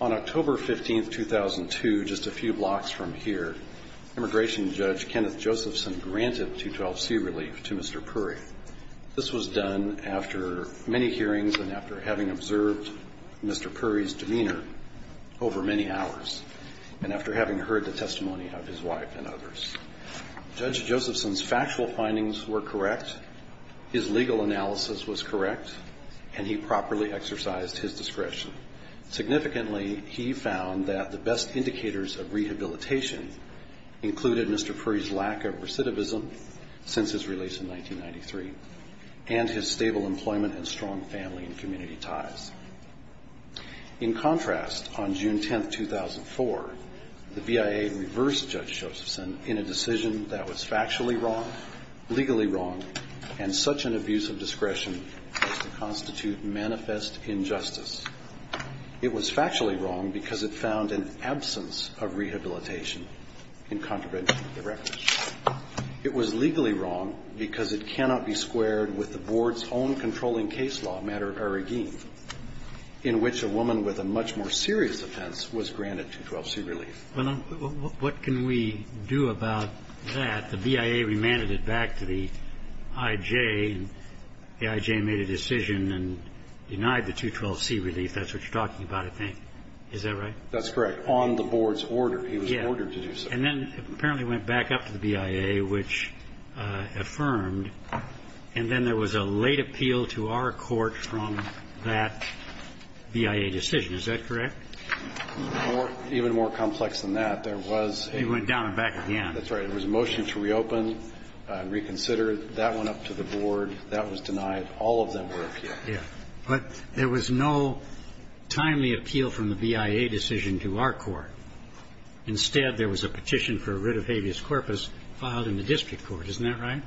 On October 15, 2002, just a few blocks from here, Immigration Judge Kenneth Josephson granted 212C relief to Mr. Puri. This was done after many hearings and after having observed Mr. Puri's demeanor over many hours, and after having heard the testimony of his wife and others. Judge Josephson's factual findings were correct, his legal analysis was correct, and he properly exercised his discretion. Significantly, he found that the best indicators of rehabilitation included Mr. Puri's lack of recidivism since his release in 1993, and his stable employment and strong family and community ties. In contrast, on June 10, 2004, the BIA reversed Judge Josephson in a decision that was factually wrong, legally wrong, and such an abuse of discretion was to constitute manifest injustice. It was factually wrong because it found an absence of rehabilitation in contravention of the record. It was legally wrong because it cannot be squared with the Board's own controlling case law, matter arreguin, in which a woman with a much more serious offense was granted 212C relief. Well, what can we do about that? The BIA remanded it back to the I.J., and the I.J. made a decision and denied the 212C relief. That's what you're talking about, I think. Is that right? That's correct. On the Board's order. He was ordered to do so. And then apparently went back up to the BIA, which affirmed. And then there was a late appeal to our court from that BIA decision. Is that correct? Even more complex than that. There was a... He went down and back again. That's right. There was a motion to reopen, reconsider. That went up to the Board. That was denied. All of them were appealed. Yeah. But there was no timely appeal from the BIA decision to our court. Instead, there was a petition for a writ of habeas corpus filed in the district court. Isn't that right?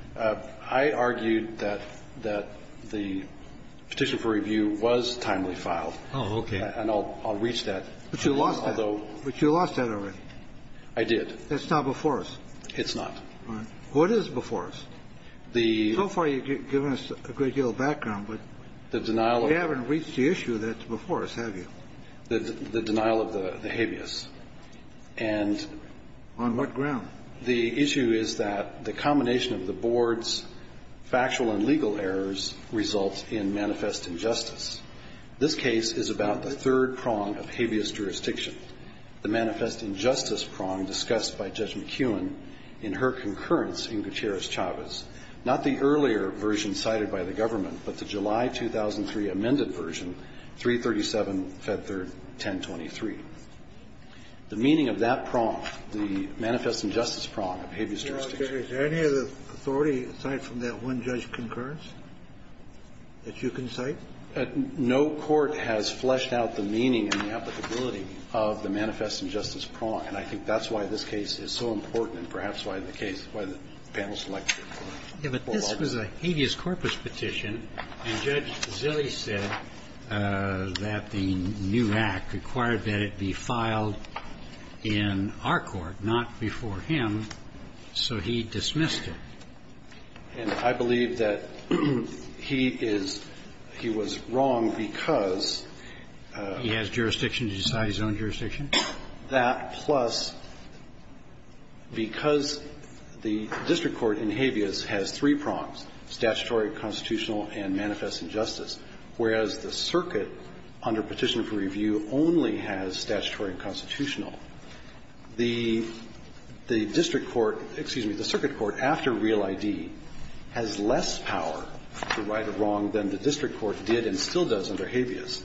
I argued that the petition for review was timely filed. Oh, okay. And I'll reach that. But you lost that. Although... But you lost that already. I did. That's not before us. It's not. All right. What is before us? The... So far you've given us a great deal of background, but... The denial of... We haven't reached the issue that's before us, have you? The denial of the habeas. And... On what ground? The issue is that the combination of the Board's factual and legal errors results in manifest injustice. This case is about the third prong of habeas jurisdiction, the manifest injustice prong discussed by Judge McKeown in her concurrence in Gutierrez-Chavez, not the earlier version cited by the government, but the July 2003 amended version, 337, Fed Third, 1023. The meaning of that prong, the manifest injustice prong of habeas jurisdiction... Is there any other authority aside from that one judge concurrence that you can cite? No court has fleshed out the meaning and the applicability of the manifest injustice prong, and I think that's why this case is so important and perhaps why the case, why the panel selected it. Yeah, but this was a habeas corpus petition, and Judge Zille said that the new act required that it be filed in our court, not before him, so he dismissed it. And I believe that he is he was wrong because... He has jurisdiction to decide his own jurisdiction? That, plus, because the district court in habeas has three prongs, statutory, constitutional, and manifest injustice, whereas the circuit, under Petitioner for Review, only has statutory and constitutional, the district court, excuse me, the circuit court after Real ID has less power to right a wrong than the district court did and still does under habeas.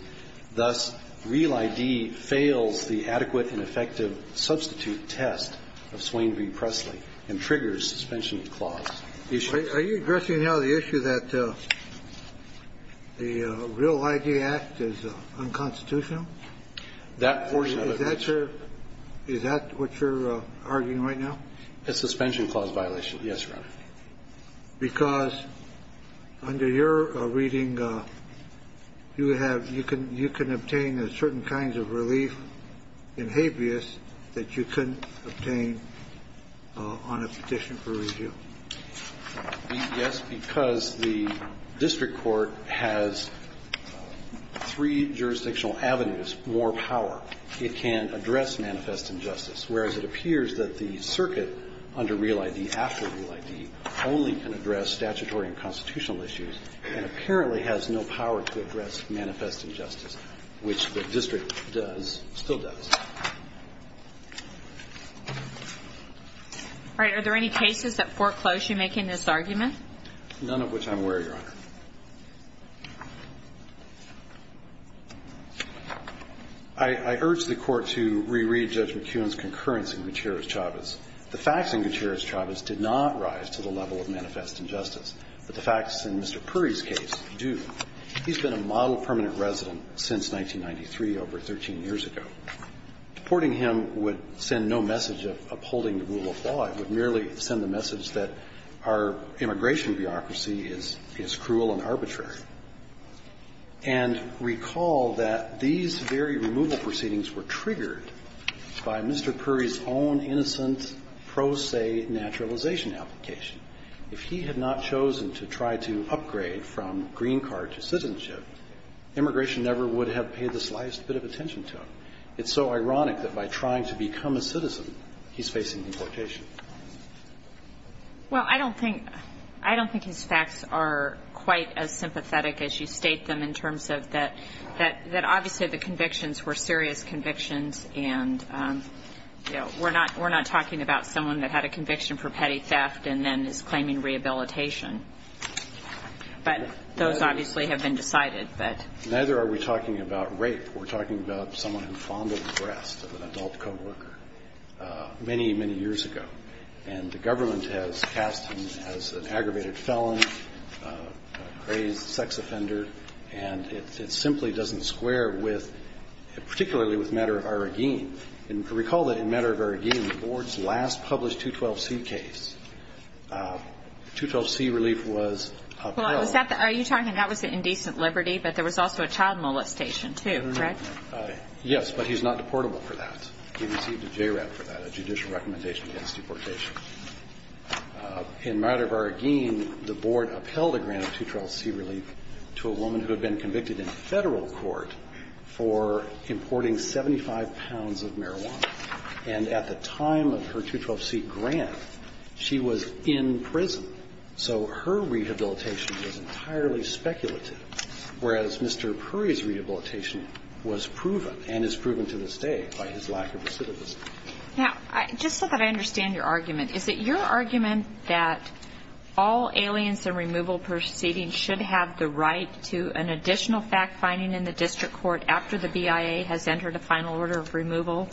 Thus, Real ID fails the adequate and effective substitute test of Swain v. Presley and triggers suspension clause issues. Are you addressing now the issue that the Real ID Act is unconstitutional? That portion of it. Is that what you're arguing right now? A suspension clause violation, yes, Your Honor. Because under your reading, you have you can you can obtain a certain kinds of relief in habeas that you couldn't obtain on a petition for review. Yes, because the district court has three jurisdictional avenues, more power. It can address manifest injustice, whereas it appears that the circuit under Real ID after Real ID only can address statutory and constitutional issues and apparently has no power to address manifest injustice, which the district does, still does. All right. Are there any cases that foreclose you making this argument? None of which I'm aware, Your Honor. I urge the Court to reread Judge McKeown's concurrence in Gutierrez-Chavez. The facts in Gutierrez-Chavez did not rise to the level of manifest injustice, but the facts in Mr. Puri's case do. He's been a model permanent resident since 1993, over 13 years ago. Deporting him would send no message of upholding the rule of law. It would merely send the message that our immigration bureaucracy is cruel and arbitrary. And recall that these very removal proceedings were triggered by Mr. Puri's own innocent pro se naturalization application. If he had not chosen to try to upgrade from green card to citizenship, immigration never would have paid the slightest bit of attention to him. It's so ironic that by trying to become a citizen, he's facing deportation. Well, I don't think his facts are quite as sympathetic as you state them in terms of that obviously the convictions were serious convictions and, you know, we're not talking about someone that had a conviction for petty theft and then is claiming rehabilitation. But those obviously have been decided. Neither are we talking about rape. We're talking about someone who fondled the breast of an adult co-worker many, many years ago. And the government has cast him as an aggravated felon, a crazed sex offender, and it simply doesn't square with, particularly with Matter of Arrogance. And recall that in Matter of Arrogance, the Board's last published 212C case, 212C relief was a pro. Are you talking about the indecent liberty, but there was also a child molestation too, correct? Yes, but he's not deportable for that. He received a JRAP for that, a judicial recommendation against deportation. In Matter of Arrogance, the Board upheld a grant of 212C relief to a woman who had been convicted in Federal court for importing 75 pounds of marijuana. And at the time of her 212C grant, she was in prison, so her rehabilitation was entirely speculative, whereas Mr. Puri's rehabilitation was proven and is proven to this day by his lack of recidivism. Now, just so that I understand your argument, is it your argument that all aliens and removal proceedings should have the right to an additional fact finding in the district court after the BIA has entered a final order of removal,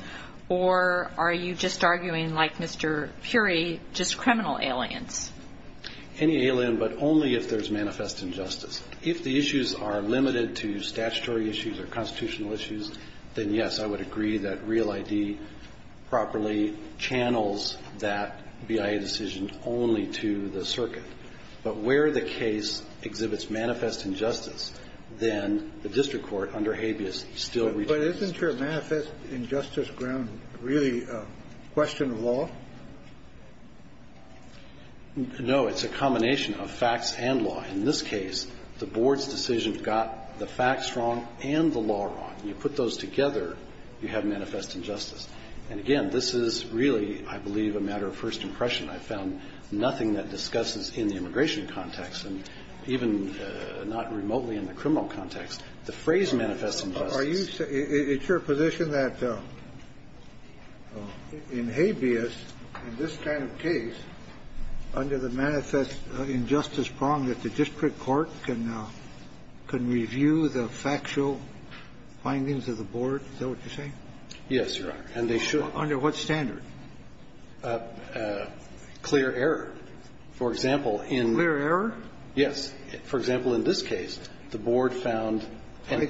or are you just arguing, like Mr. Puri, just criminal aliens? Any alien, but only if there's manifest injustice. If the issues are limited to statutory issues or constitutional issues, then, yes, I would agree that Real ID properly channels that BIA decision only to the circuit. But where the case exhibits manifest injustice, then the district court, under habeas, still retains justice. But isn't your manifest injustice ground really a question of law? No. It's a combination of facts and law. In this case, the board's decision got the facts wrong and the law wrong. You put those together, you have manifest injustice. And again, this is really, I believe, a matter of first impression. I found nothing that discusses in the immigration context, and even not remotely in the criminal context, the phrase manifest injustice. Are you saying that it's your position that in habeas, in this kind of case, under the manifest injustice prong that the district court can review the factual findings of the board? Is that what you're saying? Yes, Your Honor. And they should. Under what standard? Clear error. For example, in the board found. Why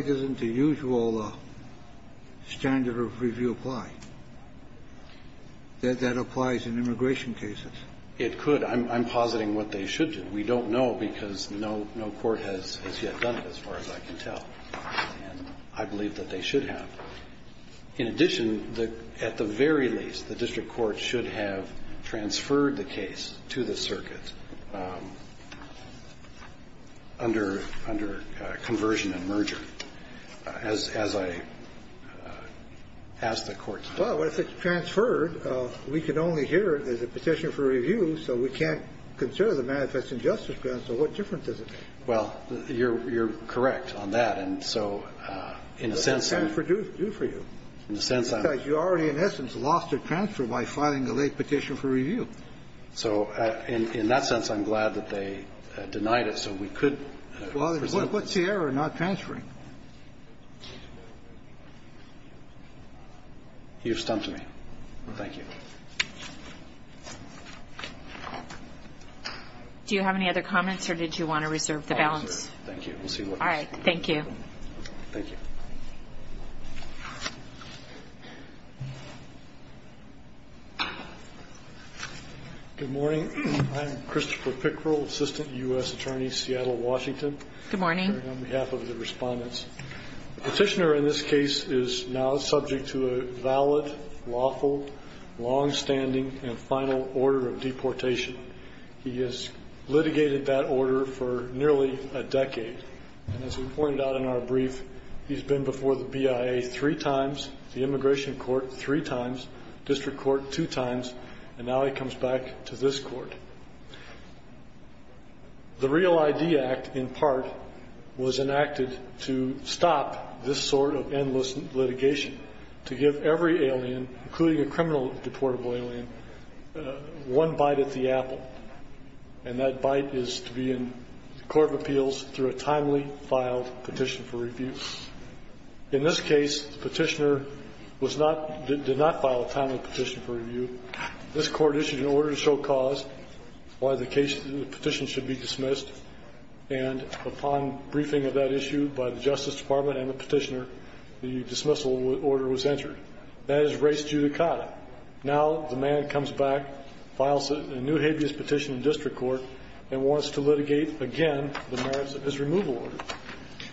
doesn't the usual standard of review apply? That that applies in immigration cases? It could. I'm positing what they should do. We don't know because no court has yet done it, as far as I can tell. And I believe that they should have. In addition, at the very least, the district court should have transferred the case to the circuit. And I believe that it's under conversion and merger, as I asked the court to do. Well, if it's transferred, we can only hear it as a petition for review, so we can't consider the manifest injustice prong. So what difference does it make? Well, you're correct on that. And so, in a sense, I'm going to do it for you. In a sense, I'm going to do it for you. Because you already, in essence, lost a transfer by filing a late petition for review. So in that sense, I'm glad that they denied it so we could present the case. Well, what's the error in not transferring? You've stumped me. Thank you. Do you have any other comments, or did you want to reserve the balance? I'll reserve it. Thank you. We'll see what we can do. All right. Thank you. Thank you. Good morning. I'm Christopher Pickrell, Assistant U.S. Attorney, Seattle, Washington. Good morning. On behalf of the respondents, the petitioner in this case is now subject to a valid, lawful, longstanding, and final order of deportation. He has litigated that order for nearly a decade. And as we pointed out in our brief, he's been before the BIA three times, the immigration court three times, district court two times, and now he comes back to this court. The Real ID Act, in part, was enacted to stop this sort of endless litigation, to give every alien, including a criminal deportable alien, one bite at the apple. And that bite is to be in the court of appeals through a timely filed petition for review. In this case, the petitioner did not file a timely petition for review. This court issued an order to show cause why the petition should be dismissed, and upon briefing of that issue by the Justice Department and the petitioner, the dismissal order was entered. That is res judicata. Now the man comes back, files a new habeas petition in district court, and wants to litigate again the merits of his removal order.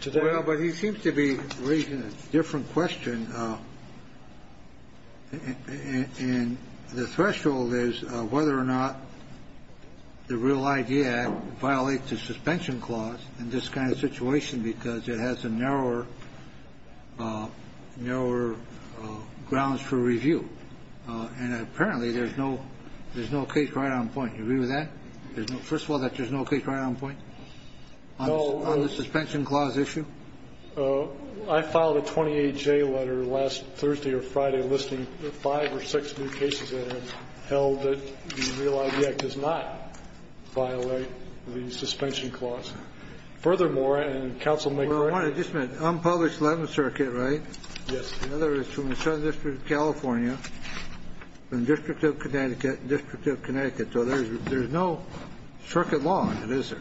To that end. Kennedy. Well, but he seems to be raising a different question, and the threshold is whether or not the Real ID Act violates the suspension clause in this kind of situation because it has a narrower grounds for review. And apparently there's no case right on point. Do you agree with that? First of all, that there's no case right on point on the suspension clause issue? I filed a 28-J letter last Thursday or Friday listing five or six new cases that have held that the Real ID Act does not violate the suspension clause. Furthermore, and counsel may correct me. Unpublished Eleventh Circuit, right? Yes. In other words, from the Southern District of California, from the District of Connecticut, District of Connecticut. So there's no circuit law in it, is there?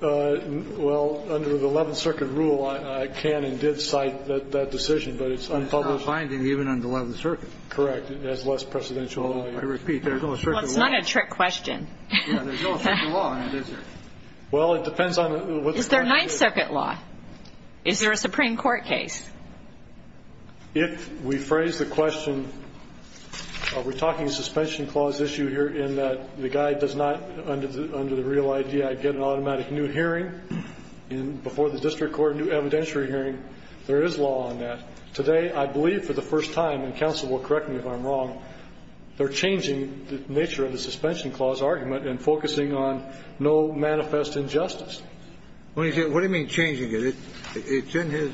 Well, under the Eleventh Circuit rule, I can and did cite that decision, but it's unpublished. It's not binding even under Eleventh Circuit. Correct. It has less precedential value. I repeat, there's no circuit law. Well, it's not a trick question. Yeah, there's no circuit law in it, is there? Well, it depends on what's going on. Is there Ninth Circuit law? Is there a Supreme Court case? If we phrase the question, are we talking a suspension clause issue here in that the guy does not, under the Real ID Act, get an automatic new hearing before the district court, new evidentiary hearing, there is law on that. Today, I believe for the first time, and counsel will correct me if I'm wrong, they're changing the nature of the suspension clause argument and focusing on no manifest injustice. What do you mean changing it? It's in his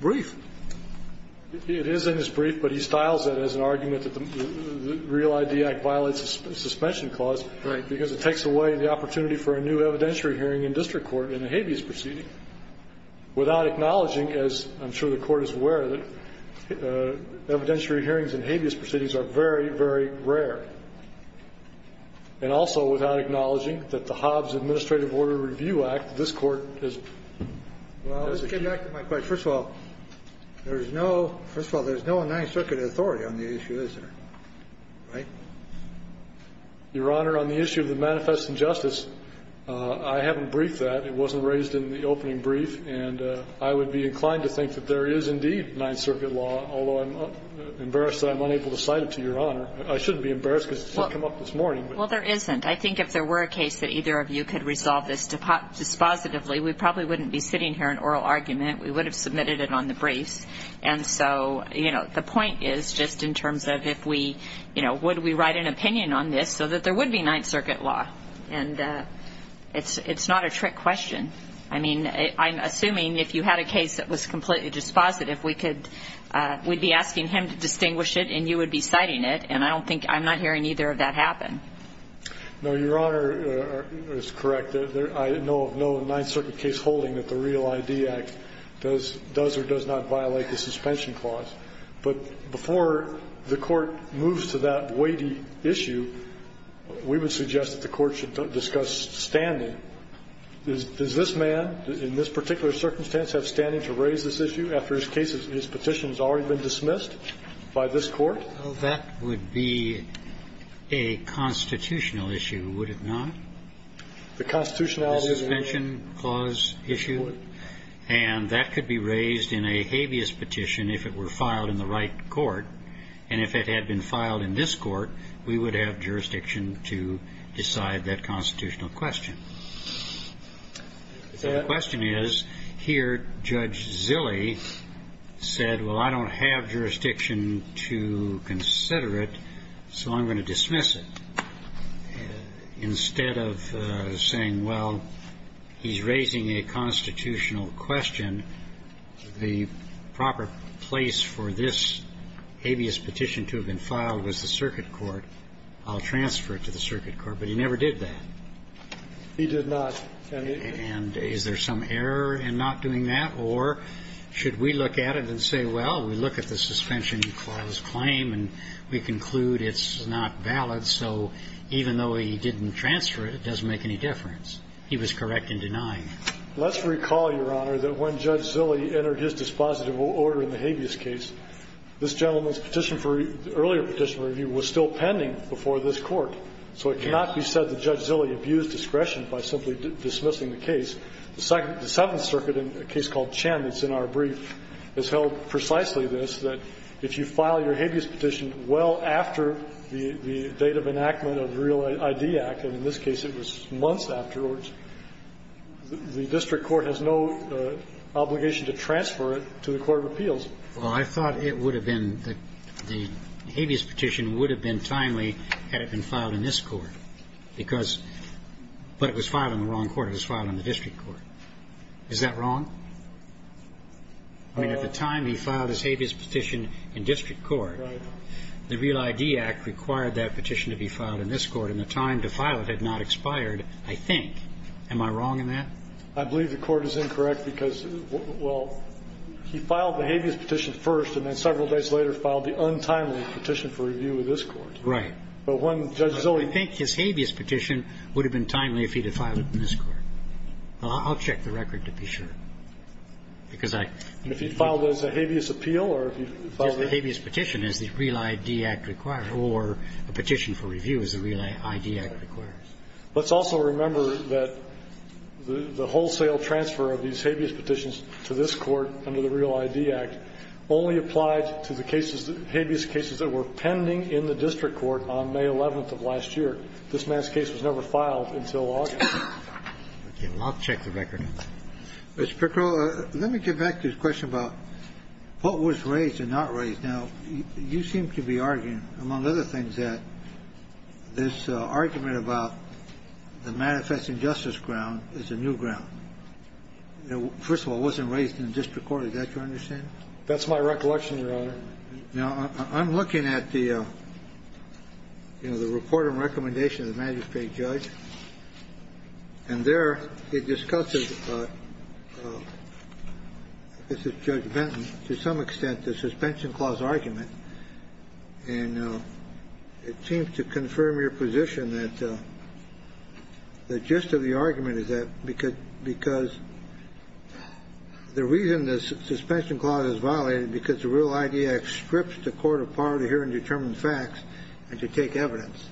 brief. It is in his brief, but he styles it as an argument that the Real ID Act violates the suspension clause because it takes away the opportunity for a new evidentiary hearing in district court in a habeas proceeding without acknowledging, as I'm sure the Court is aware, that evidentiary hearings in habeas proceedings are very, very rare, and also without acknowledging that the Hobbs Administrative Order Review Act, this Court, is... Well, let's get back to my question. First of all, there's no Ninth Circuit authority on the issue, is there? Right? Your Honor, on the issue of the manifest injustice, I haven't briefed that. It wasn't raised in the opening brief. And I would be inclined to think that there is indeed Ninth Circuit law, although I'm embarrassed that I'm unable to cite it to Your Honor. I shouldn't be embarrassed because it didn't come up this morning. Well, there isn't. I think if there were a case that either of you could resolve this dispositively, we probably wouldn't be sitting here in oral argument. We would have submitted it on the briefs. And so, you know, the point is just in terms of if we, you know, would we write an opinion on this so that there would be Ninth Circuit law. And it's not a trick question. I mean, I'm assuming if you had a case that was completely dispositive, we could we'd be asking him to distinguish it and you would be citing it, and I don't think I'm not hearing either of that happen. No, Your Honor is correct. I know of no Ninth Circuit case holding that the Real ID Act does or does not violate the suspension clause. But before the Court moves to that weighty issue, we would suggest that the Court should discuss standing. Does this man in this particular circumstance have standing to raise this issue after his case, his petition has already been dismissed by this Court? That would be a constitutional issue, would it not? The constitutionality of the suspension clause issue? It would. And that could be raised in a habeas petition if it were filed in the right court. And if it had been filed in this court, we would have jurisdiction to decide that constitutional question. The question is, here Judge Zille said, well, I don't have jurisdiction to consider it, so I'm going to dismiss it. Instead of saying, well, he's raising a constitutional question, the proper place for this habeas petition to have been filed was the circuit court. I'll transfer it to the circuit court. But he never did that. He did not. And is there some error in not doing that? Or should we look at it and say, well, we look at the suspension clause claim, and we conclude it's not valid. So even though he didn't transfer it, it doesn't make any difference. He was correct in denying it. Let's recall, Your Honor, that when Judge Zille entered his dispositive order in the habeas case, this gentleman's petition for the earlier petition review was still pending before this Court. So it cannot be said that Judge Zille abused discretion by simply dismissing the case. The Seventh Circuit, in a case called Chen that's in our brief, has held precisely this, that if you file your habeas petition well after the date of enactment of the Real ID Act, and in this case it was months afterwards, the district court has no obligation to transfer it to the court of appeals. Well, I thought it would have been the habeas petition would have been timely had it been filed in this court, because but it was filed in the wrong court. It was filed in the district court. Is that wrong? I mean, at the time he filed his habeas petition in district court, the Real ID Act required that petition to be filed in this court. And the time to file it had not expired, I think. Am I wrong in that? I believe the Court is incorrect, because, well, he filed the habeas petition first and then several days later filed the untimely petition for review in this court. Right. But when Judge Zille ---- I think his habeas petition would have been timely if he had filed it in this court. I'll check the record to be sure, because I ---- If he filed it as a habeas appeal or if he filed it ---- I don't think that's the case. And I don't think that's the case for a petition for review as the Real ID Act requires. Let's also remember that the wholesale transfer of these habeas petitions to this court under the Real ID Act only applied to the cases ---- habeas cases that were pending in the district court on May 11th of last year. This man's case was never filed until August. Okay. I'll check the record. Mr. Pickrell, let me get back to the question about what was raised and not raised. Now, you seem to be arguing, among other things, that this argument about the manifest injustice ground is a new ground. First of all, it wasn't raised in the district court. Is that your understanding? That's my recollection, Your Honor. Now, I'm looking at the, you know, the report and recommendation of the magistrate judge, and there it discusses, this is Judge Benton, to some extent the suspension clause argument, and it seems to confirm your position that the gist of the argument is that because the reason the suspension clause is violated is because the Real ID Act strips the court of power to hear and determine facts and to take evidence.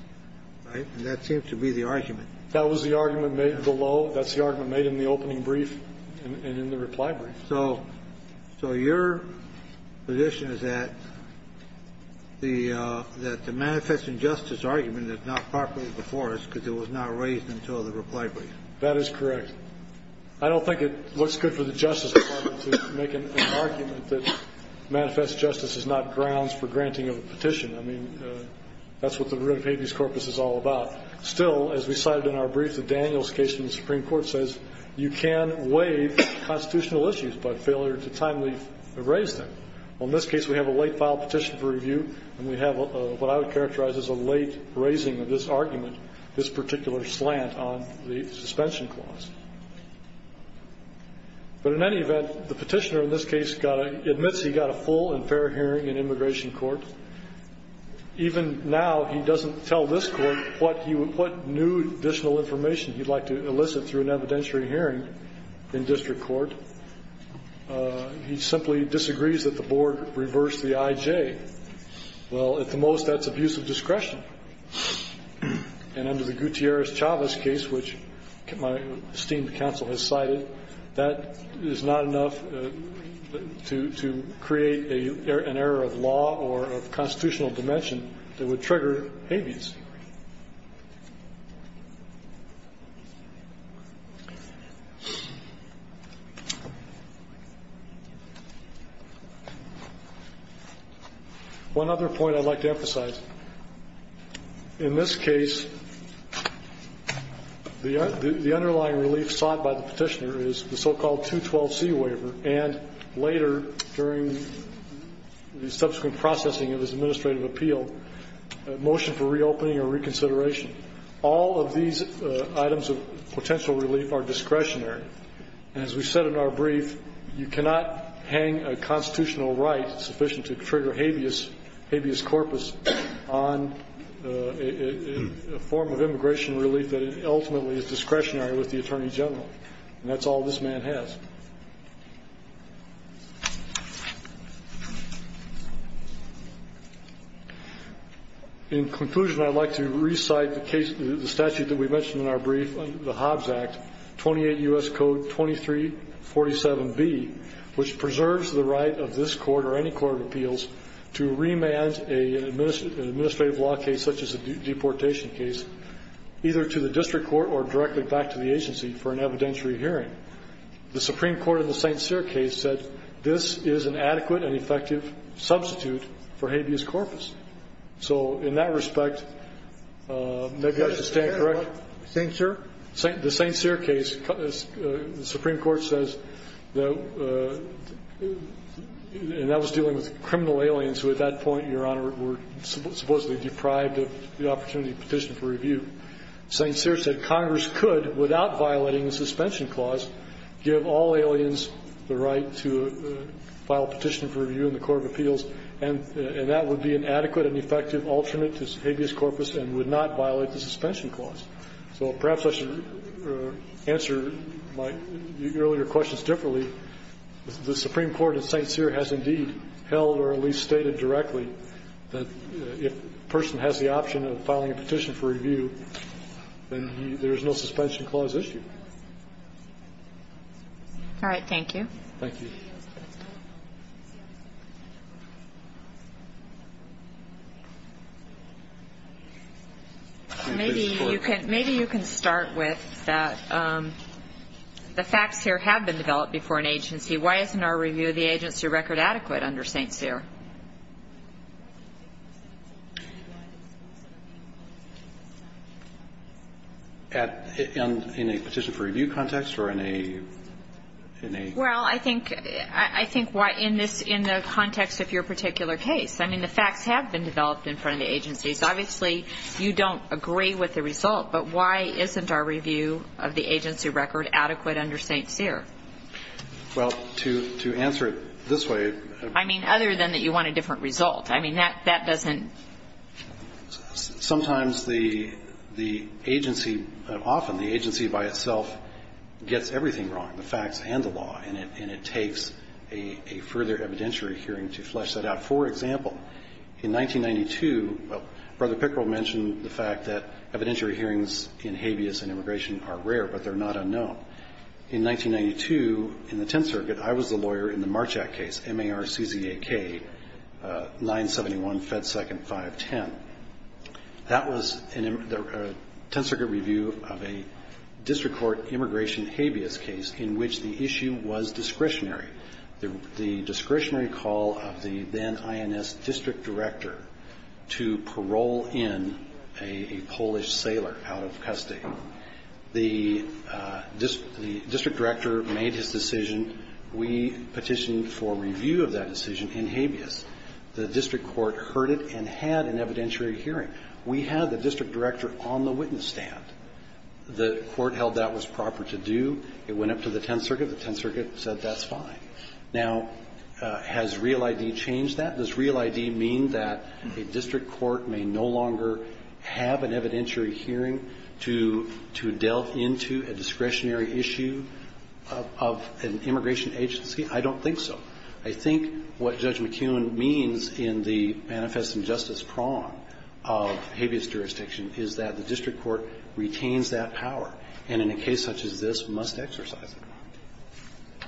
Right? That seems to be the argument. That was the argument made below. That's the argument made in the opening brief and in the reply brief. So your position is that the manifest injustice argument is not properly before us because it was not raised until the reply brief? That is correct. I don't think it looks good for the Justice Department to make an argument that manifest justice is not grounds for granting of a petition. I mean, that's what the root of habeas corpus is all about. Still, as we cited in our brief, the Daniels case in the Supreme Court says you can waive constitutional issues by failure to timely raise them. Well, in this case, we have a late filed petition for review, and we have what I would characterize as a late raising of this argument, this particular slant on the suspension clause. But in any event, the petitioner in this case admits he got a full and fair hearing in immigration court. Even now, he doesn't tell this court what new additional information he'd like to elicit through an evidentiary hearing in district court. He simply disagrees that the board reverse the I.J. Well, at the most, that's abuse of discretion. And under the Gutierrez-Chavez case, which my esteemed counsel has cited, that is not enough to create an error of law or of constitutional dimension that would trigger habeas. One other point I'd like to emphasize. In this case, the underlying relief sought by the petitioner is the so-called 212C waiver, and later, during the subsequent processing of his administrative appeal, a motion for reopening or reconsideration. All of these items of potential relief are discretionary. And as we said in our brief, you cannot hang a constitutional right sufficient to trigger habeas corpus on a form of immigration relief that ultimately is discretionary with the Attorney General. And that's all this man has. In conclusion, I'd like to recite the case, the statute that we mentioned in our brief, the Hobbs Act, 28 U.S. Code 2347B, which preserves the right of this court or any court of appeals to remand an administrative law case such as a deportation case either to the district court or directly back to the agency for an evidentiary hearing. The Supreme Court in the St. Cyr case said this is an adequate and effective substitute for habeas corpus. So in that respect, maybe I should stand corrected. The St. Cyr case, the Supreme Court says, and that was dealing with criminal aliens who at that point, Your Honor, were supposedly deprived of the opportunity to file a petition for review. St. Cyr said Congress could, without violating the suspension clause, give all aliens the right to file a petition for review in the court of appeals, and that would be an adequate and effective alternate to habeas corpus and would not violate the suspension clause. So perhaps I should answer my earlier questions differently. The Supreme Court in St. Cyr has indeed held or at least stated directly that if a person has the option of filing a petition for review, then there is no suspension clause issue. All right. Thank you. Thank you. Maybe you can start with the facts here have been developed before an agency. Why isn't our review of the agency record adequate under St. Cyr? In a petition for review context or in a ñ in a ñ Well, I think ñ I think why ñ in this ñ in the context of your particular case, I mean, the facts have been developed in front of the agencies. Obviously, you don't agree with the result, but why isn't our review of the agency record adequate under St. Cyr? Well, to ñ to answer it this way ñ I mean, other than that you want a different result. I mean, that doesn't ñ Sometimes the agency ñ often the agency by itself gets everything wrong, the facts and the law, and it takes a further evidentiary hearing to flesh that out. For example, in 1992 ñ well, Brother Pickrell mentioned the fact that evidentiary hearings in habeas and immigration are rare, but they're not unknown. In 1992, in the Tenth Circuit, I was the lawyer in the Marchak case, M-A-R-C-Z-A-K, 971 Fed Second 510. That was an ñ a Tenth Circuit review of a district court immigration habeas case in which the issue was discretionary. The ñ the discretionary call of the then INS district director to parole in a Polish sailor out of custody. The district director made his decision. We petitioned for review of that decision in habeas. The district court heard it and had an evidentiary hearing. We had the district director on the witness stand. The court held that was proper to do. It went up to the Tenth Circuit. The Tenth Circuit said that's fine. Now, has Real ID changed that? Does Real ID mean that a district court may no longer have an evidentiary hearing to ñ to delve into a discretionary issue of an immigration agency? I don't think so. I think what Judge McKeown means in the manifest injustice prong of habeas jurisdiction is that the district court retains that power, and in a case such as this, must exercise it.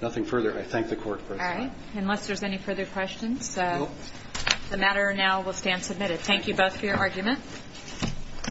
Nothing further. I thank the Court for this one. All right. Unless there's any further questions, the matter now will stand submitted. Thank you both for your argument.